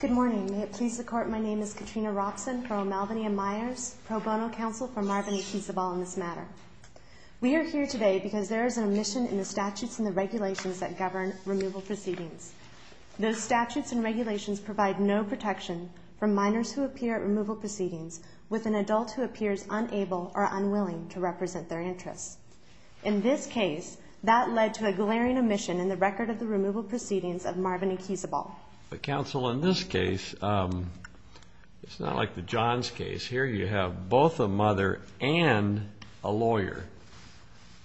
Good morning. May it please the Court, my name is Katrina Roxon for O'Malveny and Myers, pro bono counsel for Marvin Equizabal in this matter. We are here today because there is an omission in the statutes and the regulations that govern removal proceedings. Those statutes and regulations provide no protection for minors who appear at removal proceedings with an adult who appears unable or unwilling to represent their interests. In this case, that led to a glaring omission in the record of the removal proceedings of Marvin Equizabal. But counsel, in this case, it's not like the Johns case. Here you have both a mother and a lawyer.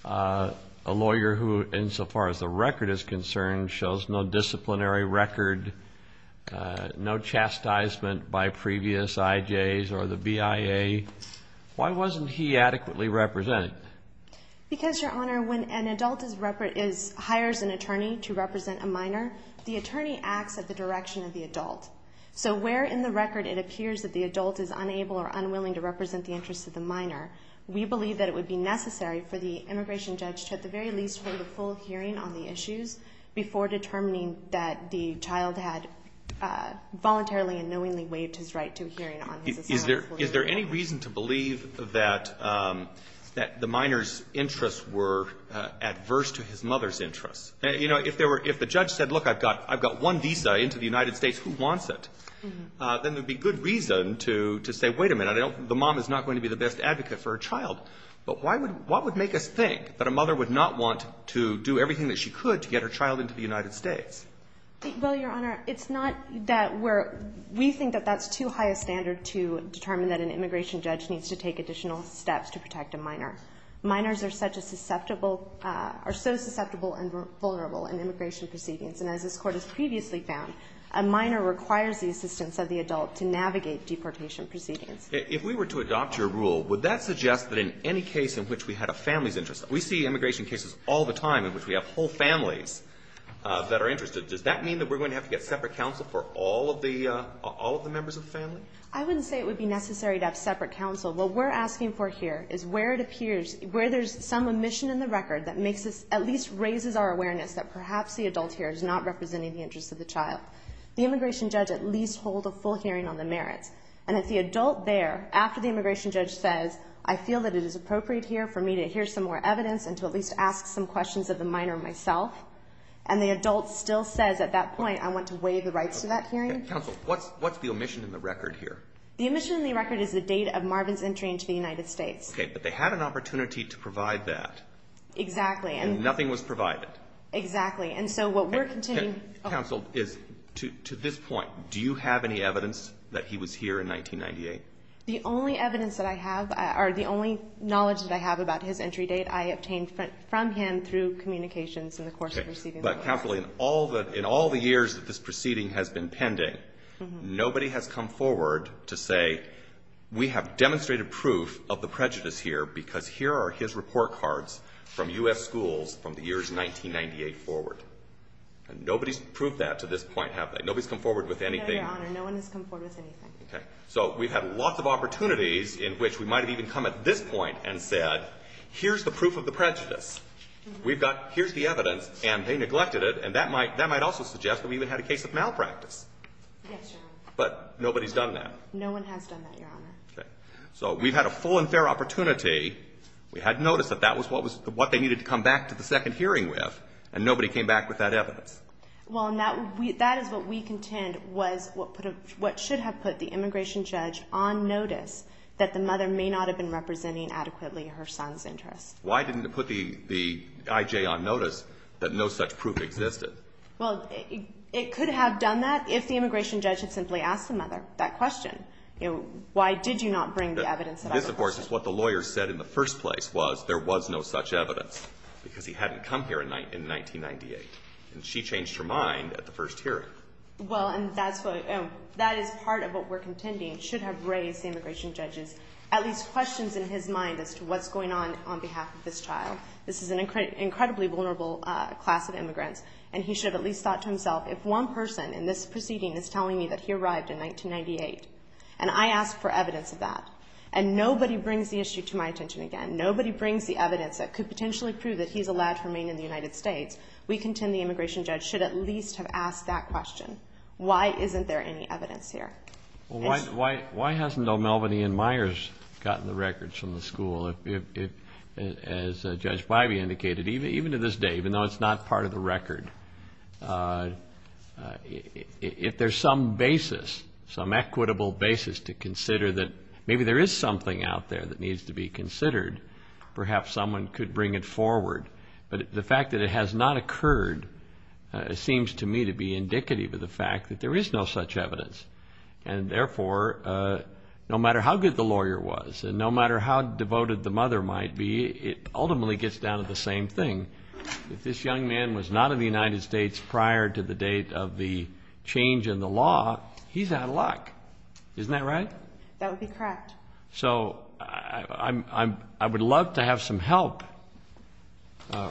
A lawyer who, insofar as the record is concerned, shows no disciplinary record, no chastisement by previous IJs or the BIA. Why wasn't he adequately represented? Because, Your Honor, when an adult hires an attorney to represent a minor, the attorney acts at the direction of the adult. So where in the record it appears that the adult is unable or unwilling to represent the interests of the minor, we believe that it would be necessary for the immigration judge to at the very least hold a full hearing on the issues before determining that the child had voluntarily and knowingly waived his right to a hearing on his asylum. Is there any reason to believe that the minor's interests were adverse to his mother's interests? You know, if the judge said, look, I've got one visa into the United States, who wants it? Then there would be good reason to say, wait a minute, the mom is not going to be the best advocate for her child. But what would make us think that a mother would not want to do everything that she could to get her child into the United States? Well, Your Honor, it's not that we're – we think that that's too high a standard to determine that an immigration judge needs to take additional steps to protect a minor. Minors are such a susceptible – are so susceptible and vulnerable in immigration proceedings. And as this Court has previously found, a minor requires the assistance of the adult to navigate deportation proceedings. If we were to adopt your rule, would that suggest that in any case in which we had a family's interest – we see immigration cases all the time in which we have whole families that are interested – does that mean that we're going to have to get separate counsel for all of the – all of the members of the family? I wouldn't say it would be necessary to have separate counsel. What we're asking for here is where it appears – where there's some omission in the record that makes us – at least raises our awareness that perhaps the adult here is not representing the interests of the child. The immigration judge at least hold a full hearing on the merits. And if the adult there, after the immigration judge says, I feel that it is appropriate here for me to hear some more evidence and to at least ask some questions of the minor myself, and the adult still says at that point, I want to waive the rights to that hearing. Okay. Counsel, what's the omission in the record here? The omission in the record is the date of Marvin's entry into the United States. Okay. But they had an opportunity to provide that. Exactly. And nothing was provided. Exactly. And so what we're continuing – Counsel, is – to this point, do you have any evidence that he was here in 1998? The only evidence that I have – or the only knowledge that I have about his entry date, I obtained from him through communications in the course of receiving the record. Okay. But, Kathleen, all the – in all the years that this proceeding has been pending, nobody has come forward to say, we have demonstrated proof of the prejudice here because here are his report cards from U.S. schools from the years 1998 forward. Nobody's proved that to this point, have they? Nobody's come forward with anything? No, Your Honor. No one has come forward with anything. Okay. So we've had lots of opportunities in which we might have even come at this point and said, here's the proof of the prejudice. We've got – here's the evidence, and they neglected it, and that might – that might also suggest that we even had a case of malpractice. Yes, Your Honor. But nobody's done that. No one has done that, Your Honor. Okay. So we've had a full and fair opportunity. We had noticed that that was what was – what they needed to come back to the second hearing with, and nobody came back with that evidence. Well, and that is what we contend was what should have put the immigration judge on notice that the mother may not have been representing adequately her son's interests. Why didn't it put the I.J. on notice that no such proof existed? Well, it could have done that if the immigration judge had simply asked the mother that question. You know, why did you not bring the evidence that I suggested? This, of course, is what the lawyer said in the first place was there was no such evidence because he hadn't come here in 1998, and she changed her mind at the first hearing. Well, and that's what – that is part of what we're contending should have raised the immigration judges at least questions in his mind as to what's going on on behalf of this child. This is an incredibly vulnerable class of immigrants, and he should have at least thought to himself, if one person in this proceeding is telling me that he arrived in 1998 and I ask for evidence of that and nobody brings the issue to my attention again, and nobody brings the evidence that could potentially prove that he's allowed to remain in the United States, we contend the immigration judge should at least have asked that question. Why isn't there any evidence here? Well, why hasn't O'Melveny and Myers gotten the records from the school? As Judge Bybee indicated, even to this day, even though it's not part of the record, if there's some basis, some equitable basis to consider that maybe there is something out there that needs to be considered, perhaps someone could bring it forward. But the fact that it has not occurred seems to me to be indicative of the fact that there is no such evidence. And therefore, no matter how good the lawyer was and no matter how devoted the mother might be, it ultimately gets down to the same thing. If this young man was not in the United States prior to the date of the change in the law, he's out of luck. Isn't that right? That would be correct. So I would love to have some help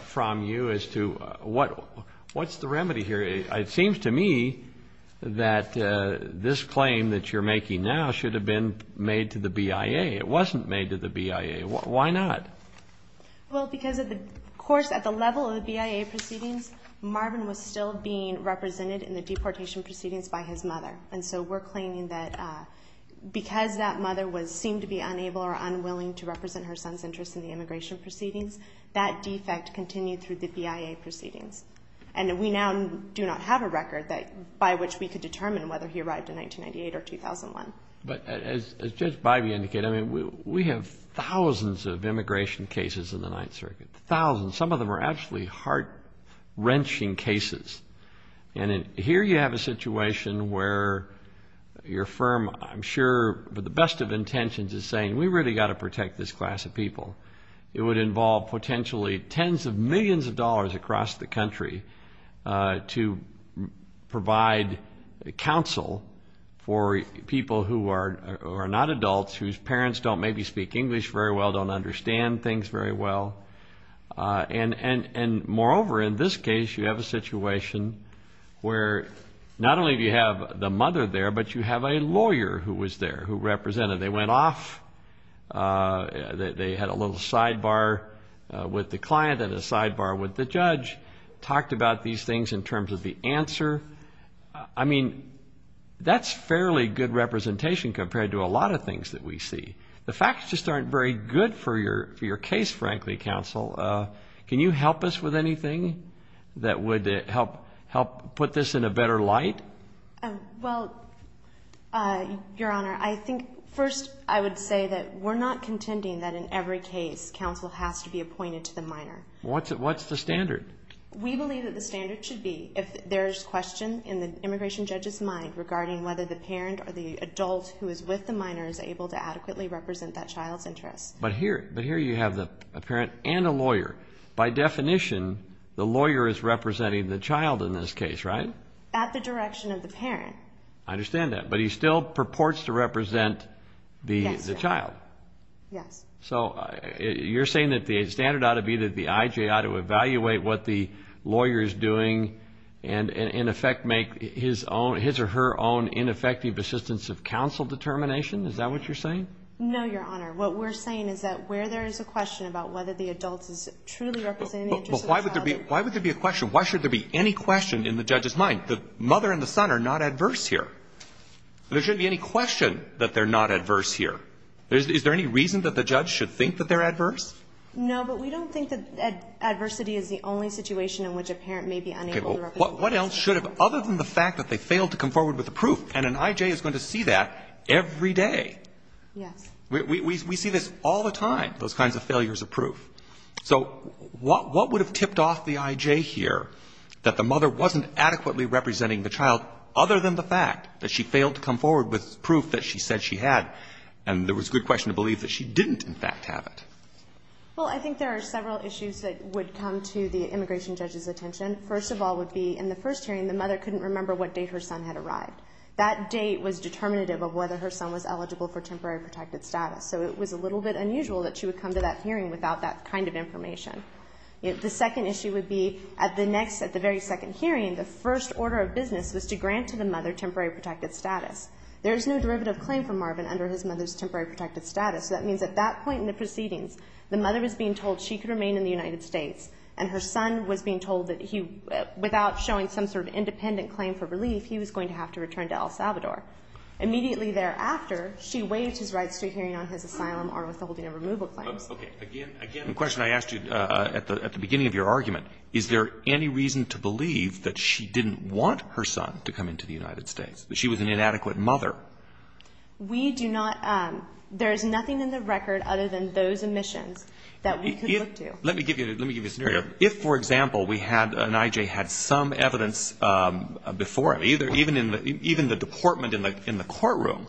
from you as to what's the remedy here. It seems to me that this claim that you're making now should have been made to the BIA. It wasn't made to the BIA. Why not? Well, because, of course, at the level of the BIA proceedings, Marvin was still being represented in the deportation proceedings by his mother. And so we're claiming that because that mother seemed to be unable or unwilling to represent her son's interest in the immigration proceedings, that defect continued through the BIA proceedings. And we now do not have a record by which we could determine whether he arrived in 1998 or 2001. But as Judge Bybee indicated, we have thousands of immigration cases in the Ninth Circuit, thousands. Some of them are actually heart-wrenching cases. And here you have a situation where your firm, I'm sure with the best of intentions, is saying we really got to protect this class of people. It would involve potentially tens of millions of dollars across the country to provide counsel for people who are not adults, whose parents don't maybe speak English very well, don't understand things very well. And moreover, in this case, you have a situation where not only do you have the mother there, but you have a lawyer who was there who represented. They went off. They had a little sidebar with the client and a sidebar with the judge, talked about these things in terms of the answer. I mean, that's fairly good representation compared to a lot of things that we see. The facts just aren't very good for your case, frankly, counsel. Can you help us with anything that would help put this in a better light? Well, Your Honor, I think first I would say that we're not contending that in every case, counsel has to be appointed to the minor. What's the standard? We believe that the standard should be if there's question in the immigration judge's mind regarding whether the parent or the adult who is with the minor is able to adequately represent that child's interests. But here you have a parent and a lawyer. By definition, the lawyer is representing the child in this case, right? At the direction of the parent. I understand that. But he still purports to represent the child. Yes. So you're saying that the standard ought to be that the IJ ought to evaluate what the lawyer is doing and, in effect, make his or her own ineffective assistance of counsel determination? Is that what you're saying? No, Your Honor. What we're saying is that where there is a question about whether the adult is truly representing the interest of the child. But why would there be a question? Why should there be any question in the judge's mind? The mother and the son are not adverse here. There shouldn't be any question that they're not adverse here. Is there any reason that the judge should think that they're adverse? No, but we don't think that adversity is the only situation in which a parent may be unable to represent the child. Okay. Well, what else should have, other than the fact that they failed to come forward with the proof? And an IJ is going to see that every day. Yes. We see this all the time, those kinds of failures of proof. So what would have tipped off the IJ here, that the mother wasn't adequately representing the child, other than the fact that she failed to come forward with proof that she said she had, and there was good question to believe that she didn't, in fact, have it? Well, I think there are several issues that would come to the immigration judge's attention. First of all would be, in the first hearing, the mother couldn't remember what date her son had arrived. That date was determinative of whether her son was eligible for temporary protected status. So it was a little bit unusual that she would come to that hearing without that kind of information. The second issue would be, at the next, at the very second hearing, the first order of business was to grant to the mother temporary protected status. There is no derivative claim for Marvin under his mother's temporary protected status. So that means at that point in the proceedings, the mother is being told she could remain in the United States, and her son was being told that he, without showing some sort of independent claim for relief, he was going to have to return to El Salvador. Immediately thereafter, she waived his rights to a hearing on his asylum or withholding a removal claim. Okay. Again, again, the question I asked you at the beginning of your argument, is there any reason to believe that she didn't want her son to come into the United States, that she was an inadequate mother? We do not. There is nothing in the record other than those omissions that we could look to. Let me give you a scenario. If, for example, we had an I.J. had some evidence before him, even the deportment in the courtroom,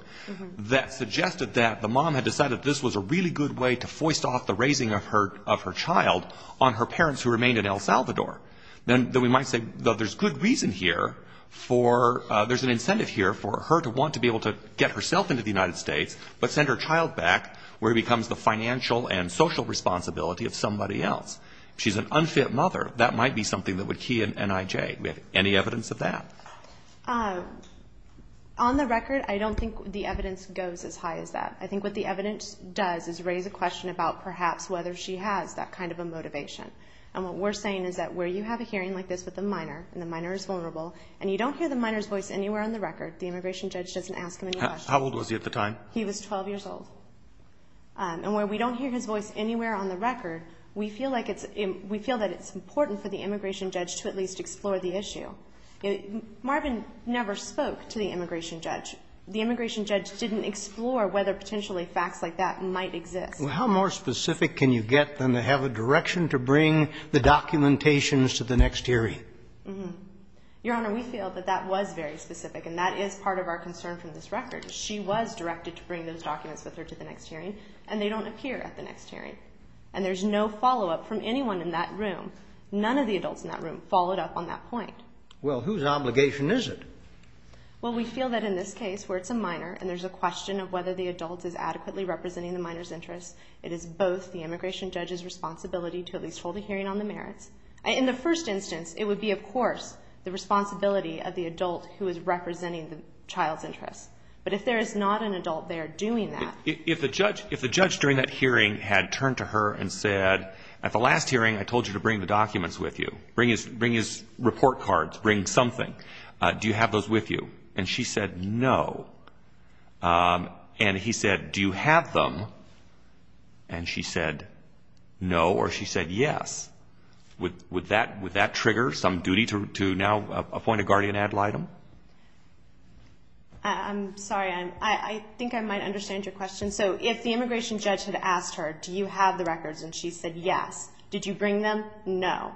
that suggested that the mom had decided this was a really good way to foist off the raising of her child on her parents who remained in El Salvador, then we might say, well, there's good reason here for, there's an incentive here for her to want to be able to get herself into the United States, but send her child back where it becomes the financial and social responsibility of somebody else. If she's an unfit mother, that might be something that would key an I.J. Any evidence of that? On the record, I don't think the evidence goes as high as that. I think what the evidence does is raise a question about perhaps whether she has that kind of a motivation. And what we're saying is that where you have a hearing like this with a minor, and the minor is vulnerable, and you don't hear the minor's voice anywhere on the record, the immigration judge doesn't ask him any questions. How old was he at the time? He was 12 years old. And where we don't hear his voice anywhere on the record, we feel like it's, we feel that it's important for the immigration judge to at least explore the issue. Marvin never spoke to the immigration judge. The immigration judge didn't explore whether potentially facts like that might exist. Well, how more specific can you get than to have a direction to bring the documentations to the next hearing? Your Honor, we feel that that was very specific, and that is part of our concern from this record. She was directed to bring those documents with her to the next hearing, and they don't appear at the next hearing. And there's no follow-up from anyone in that room. None of the adults in that room followed up on that point. Well, whose obligation is it? Well, we feel that in this case where it's a minor, and there's a question of whether the adult is adequately representing the minor's interests, it is both the immigration judge's responsibility to at least hold a hearing on the merits. In the first instance, it would be, of course, the responsibility of the adult who is representing the child's interests. But if there is not an adult there doing that. If the judge during that hearing had turned to her and said, at the last hearing I told you to bring the documents with you, bring his report cards, bring something, do you have those with you? And she said, no. And he said, do you have them? And she said, no. Or she said, yes. Would that trigger some duty to now appoint a guardian ad litem? I'm sorry. I think I might understand your question. So if the immigration judge had asked her, do you have the records, and she said yes, did you bring them? No.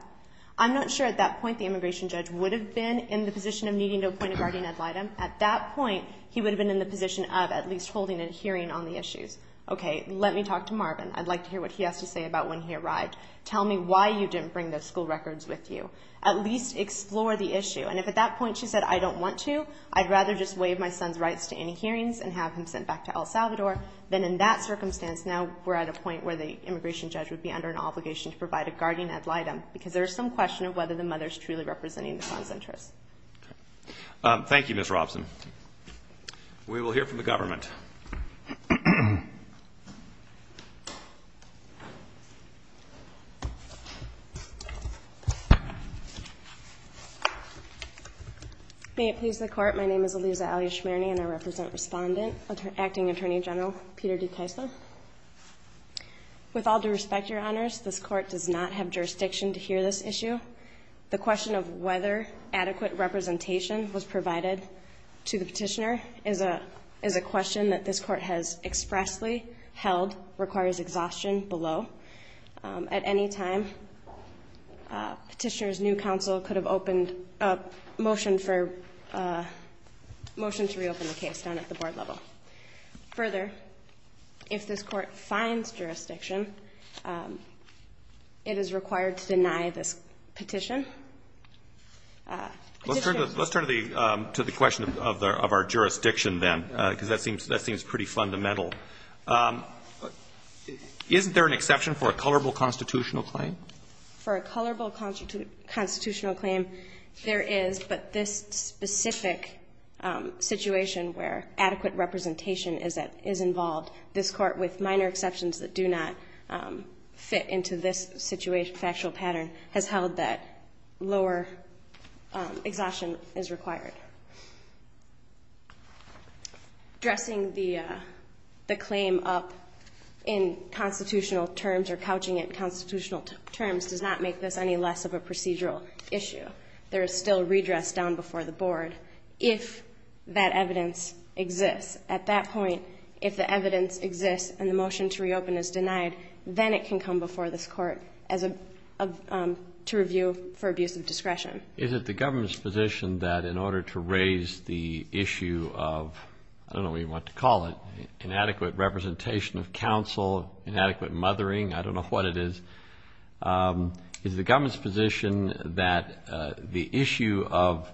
I'm not sure at that point the immigration judge would have been in the position of needing to appoint a guardian ad litem. At that point, he would have been in the position of at least holding a hearing on the issues. Okay, let me talk to Marvin. I'd like to hear what he has to say about when he arrived. Tell me why you didn't bring those school records with you. At least explore the issue. And if at that point she said, I don't want to, I'd rather just waive my son's rights to any hearings and have him sent back to El Salvador, then in that circumstance, now we're at a point where the immigration judge would be under an obligation to provide a guardian ad litem, because there is some question of whether the mother is truly representing the son's interests. Thank you, Ms. Robson. We will hear from the government. May it please the Court. My name is Aliza Alya Shmierny, and I represent Respondent Acting Attorney General Peter DeCaisa. With all due respect, Your Honors, this Court does not have jurisdiction to hear this issue. The question of whether adequate representation was provided to the petitioner is a question that this Court has expressly held requires exhaustion below. At any time, petitioner's new counsel could have opened a motion for a motion to reopen the case down at the board level. Further, if this Court finds jurisdiction, it is required to deny this petition. Let's turn to the question of our jurisdiction then, because that seems pretty fundamental. Isn't there an exception for a colorable constitutional claim? For a colorable constitutional claim, there is, but this specific situation where adequate representation is involved, this Court, with minor exceptions that do not fit into this factual pattern, has held that lower exhaustion is required. Dressing the claim up in constitutional terms or couching it in constitutional terms does not make this any less of a procedural issue. There is still redress down before the board if that evidence exists. At that point, if the evidence exists and the motion to reopen is denied, then it can come before this Court to review for abuse of discretion. Is it the government's position that in order to raise the issue of, I don't know what you want to call it, inadequate representation of counsel, inadequate mothering, I don't know what it is, is the government's position that the issue of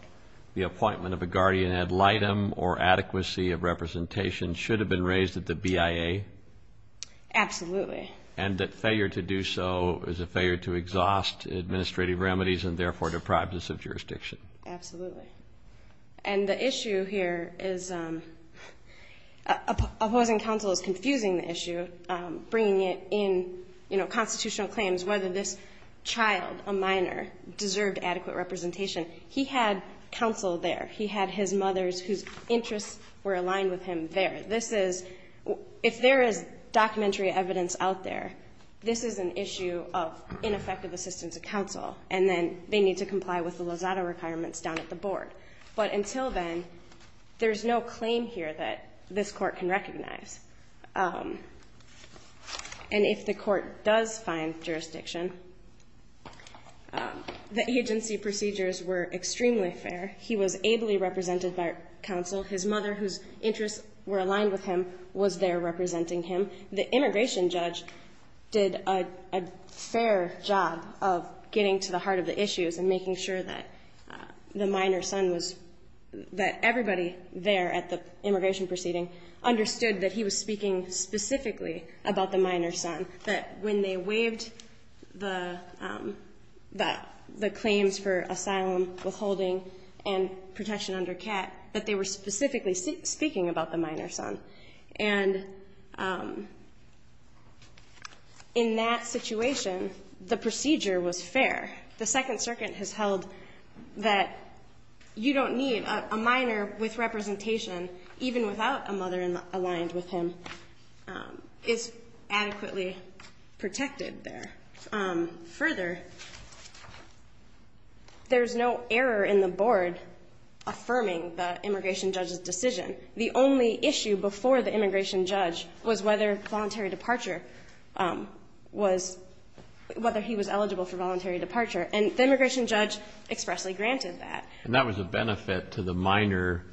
the appointment of a guardian ad litem or adequacy of representation should have been raised at the BIA? Absolutely. And that failure to do so is a failure to exhaust administrative remedies and, therefore, deprive us of jurisdiction? Absolutely. And the issue here is opposing counsel is confusing the issue, bringing it in, you know, constitutional claims, whether this child, a minor, deserved adequate representation. He had counsel there. He had his mothers whose interests were aligned with him there. If there is documentary evidence out there, this is an issue of ineffective assistance of counsel, and then they need to comply with the Lozada requirements down at the board. But until then, there's no claim here that this Court can recognize. And if the Court does find jurisdiction, the agency procedures were extremely fair. He was ably represented by counsel. His mother, whose interests were aligned with him, was there representing him. The immigration judge did a fair job of getting to the heart of the issues and making sure that the minor's son was, that everybody there at the immigration proceeding understood that he was speaking specifically about the minor's son, that when they waived the claims for asylum, withholding, and protection under CAT, that they were specifically speaking about the minor's son. And in that situation, the procedure was fair. The Second Circuit has held that you don't need a minor with representation, even without a mother aligned with him, is adequately protected there. Further, there's no error in the board affirming the immigration judge's decision. The only issue before the immigration judge was whether voluntary departure was, whether he was eligible for voluntary departure. And the immigration judge expressly granted that. And that was a benefit to the minor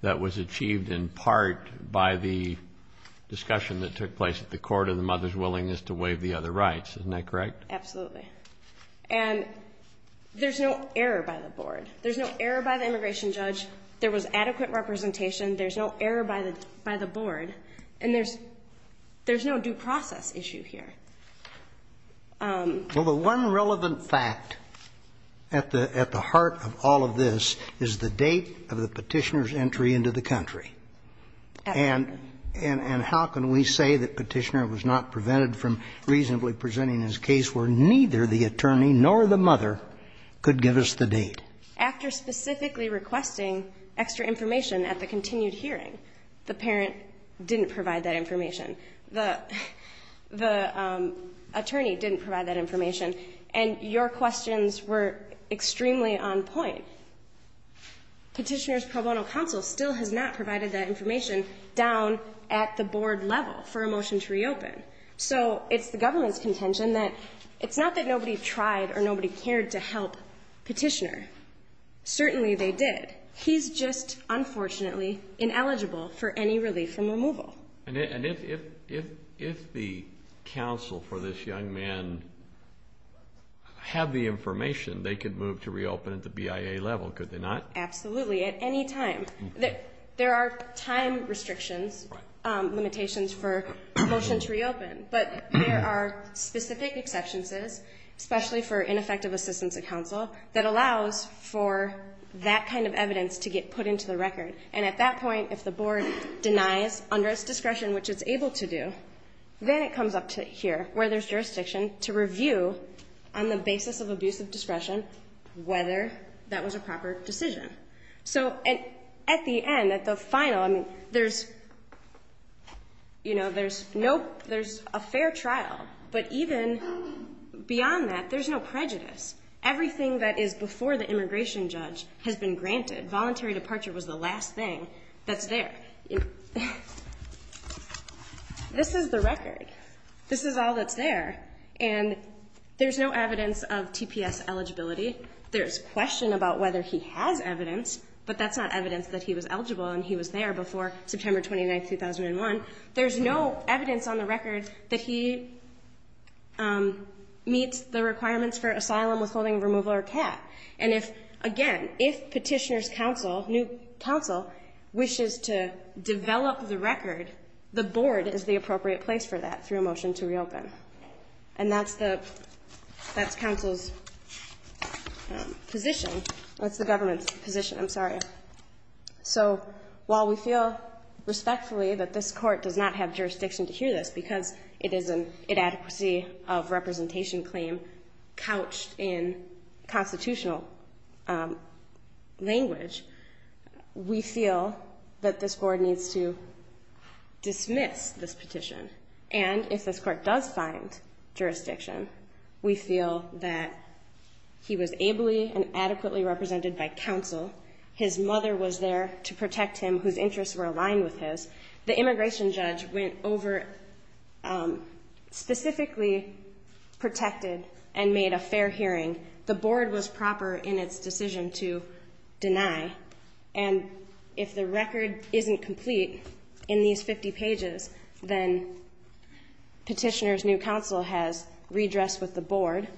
that was achieved in part by the discussion that took place at the court of the mother's willingness to waive the other rights. Isn't that correct? Absolutely. And there's no error by the board. There's no error by the immigration judge. There was adequate representation. There's no error by the board. And there's no due process issue here. Well, the one relevant fact at the heart of all of this is the date of the Petitioner's entry into the country. And how can we say that Petitioner was not prevented from reasonably presenting his case where neither the attorney nor the mother could give us the date? After specifically requesting extra information at the continued hearing, the parent didn't provide that information. The attorney didn't provide that information. And your questions were extremely on point. Petitioner's pro bono counsel still has not provided that information down at the board level for a motion to reopen. So it's the government's contention that it's not that nobody tried or nobody cared to help Petitioner. Certainly they did. He's just, unfortunately, ineligible for any relief from removal. And if the counsel for this young man had the information, they could move to reopen at the BIA level, could they not? Absolutely, at any time. There are time restrictions, limitations for a motion to reopen. But there are specific exceptions, especially for ineffective assistance of counsel, that allows for that kind of evidence to get put into the record. And at that point, if the board denies under its discretion, which it's able to do, then it comes up to here, where there's jurisdiction, to review on the basis of abusive discretion whether that was a proper decision. So at the end, at the final, I mean, there's, you know, there's a fair trial. But even beyond that, there's no prejudice. Everything that is before the immigration judge has been granted. Voluntary departure was the last thing that's there. This is the record. This is all that's there. And there's no evidence of TPS eligibility. There's question about whether he has evidence, but that's not evidence that he was eligible and he was there before September 29, 2001. There's no evidence on the record that he meets the requirements for asylum withholding, removal, or cap. And if, again, if petitioner's counsel, new counsel, wishes to develop the record, the board is the appropriate place for that through a motion to reopen. And that's the council's position. That's the government's position. I'm sorry. So while we feel respectfully that this court does not have jurisdiction to hear this because it is an inadequacy of representation claim couched in constitutional language, we feel that this board needs to dismiss this petition. And if this court does find jurisdiction, we feel that he was ably and adequately represented by counsel, his mother was there to protect him, whose interests were aligned with his. The immigration judge went over, specifically protected and made a fair hearing. The board was proper in its decision to deny. And if the record isn't complete in these 50 pages, then petitioner's new counsel has redressed with the board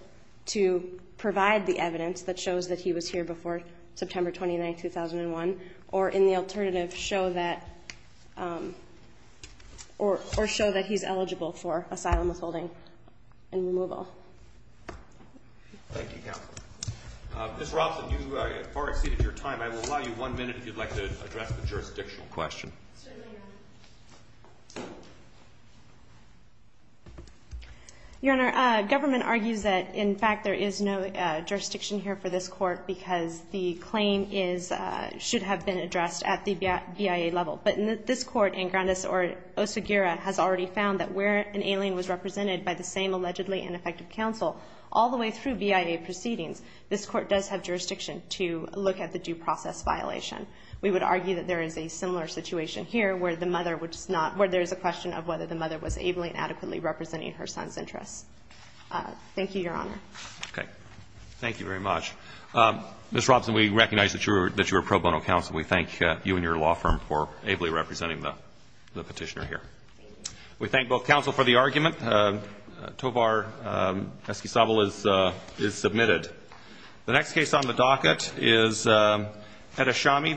to provide the evidence that shows that he was here before September 29, 2001, or in the alternative show that he's eligible for asylum withholding and removal. Thank you, counsel. Ms. Robson, you have far exceeded your time. I will allow you one minute if you'd like to address the jurisdictional question. Certainly, Your Honor. Your Honor, government argues that, in fact, there is no jurisdiction here for this court because the claim is, should have been addressed at the BIA level. But this court in Grandis or Osagura has already found that where an alien was represented by the same allegedly ineffective counsel all the way through BIA proceedings, this court does have jurisdiction to look at the due process violation. We would argue that there is a similar situation here where the mother was not, where there is a question of whether the mother was ably and adequately representing her son's interests. Thank you, Your Honor. Okay. Thank you very much. Ms. Robson, we recognize that you are pro bono counsel. We thank you and your law firm for ably representing the petitioner here. We thank both counsel for the argument. Tovar eskisavl is submitted. The next case on the docket is Edashami v. Suarez.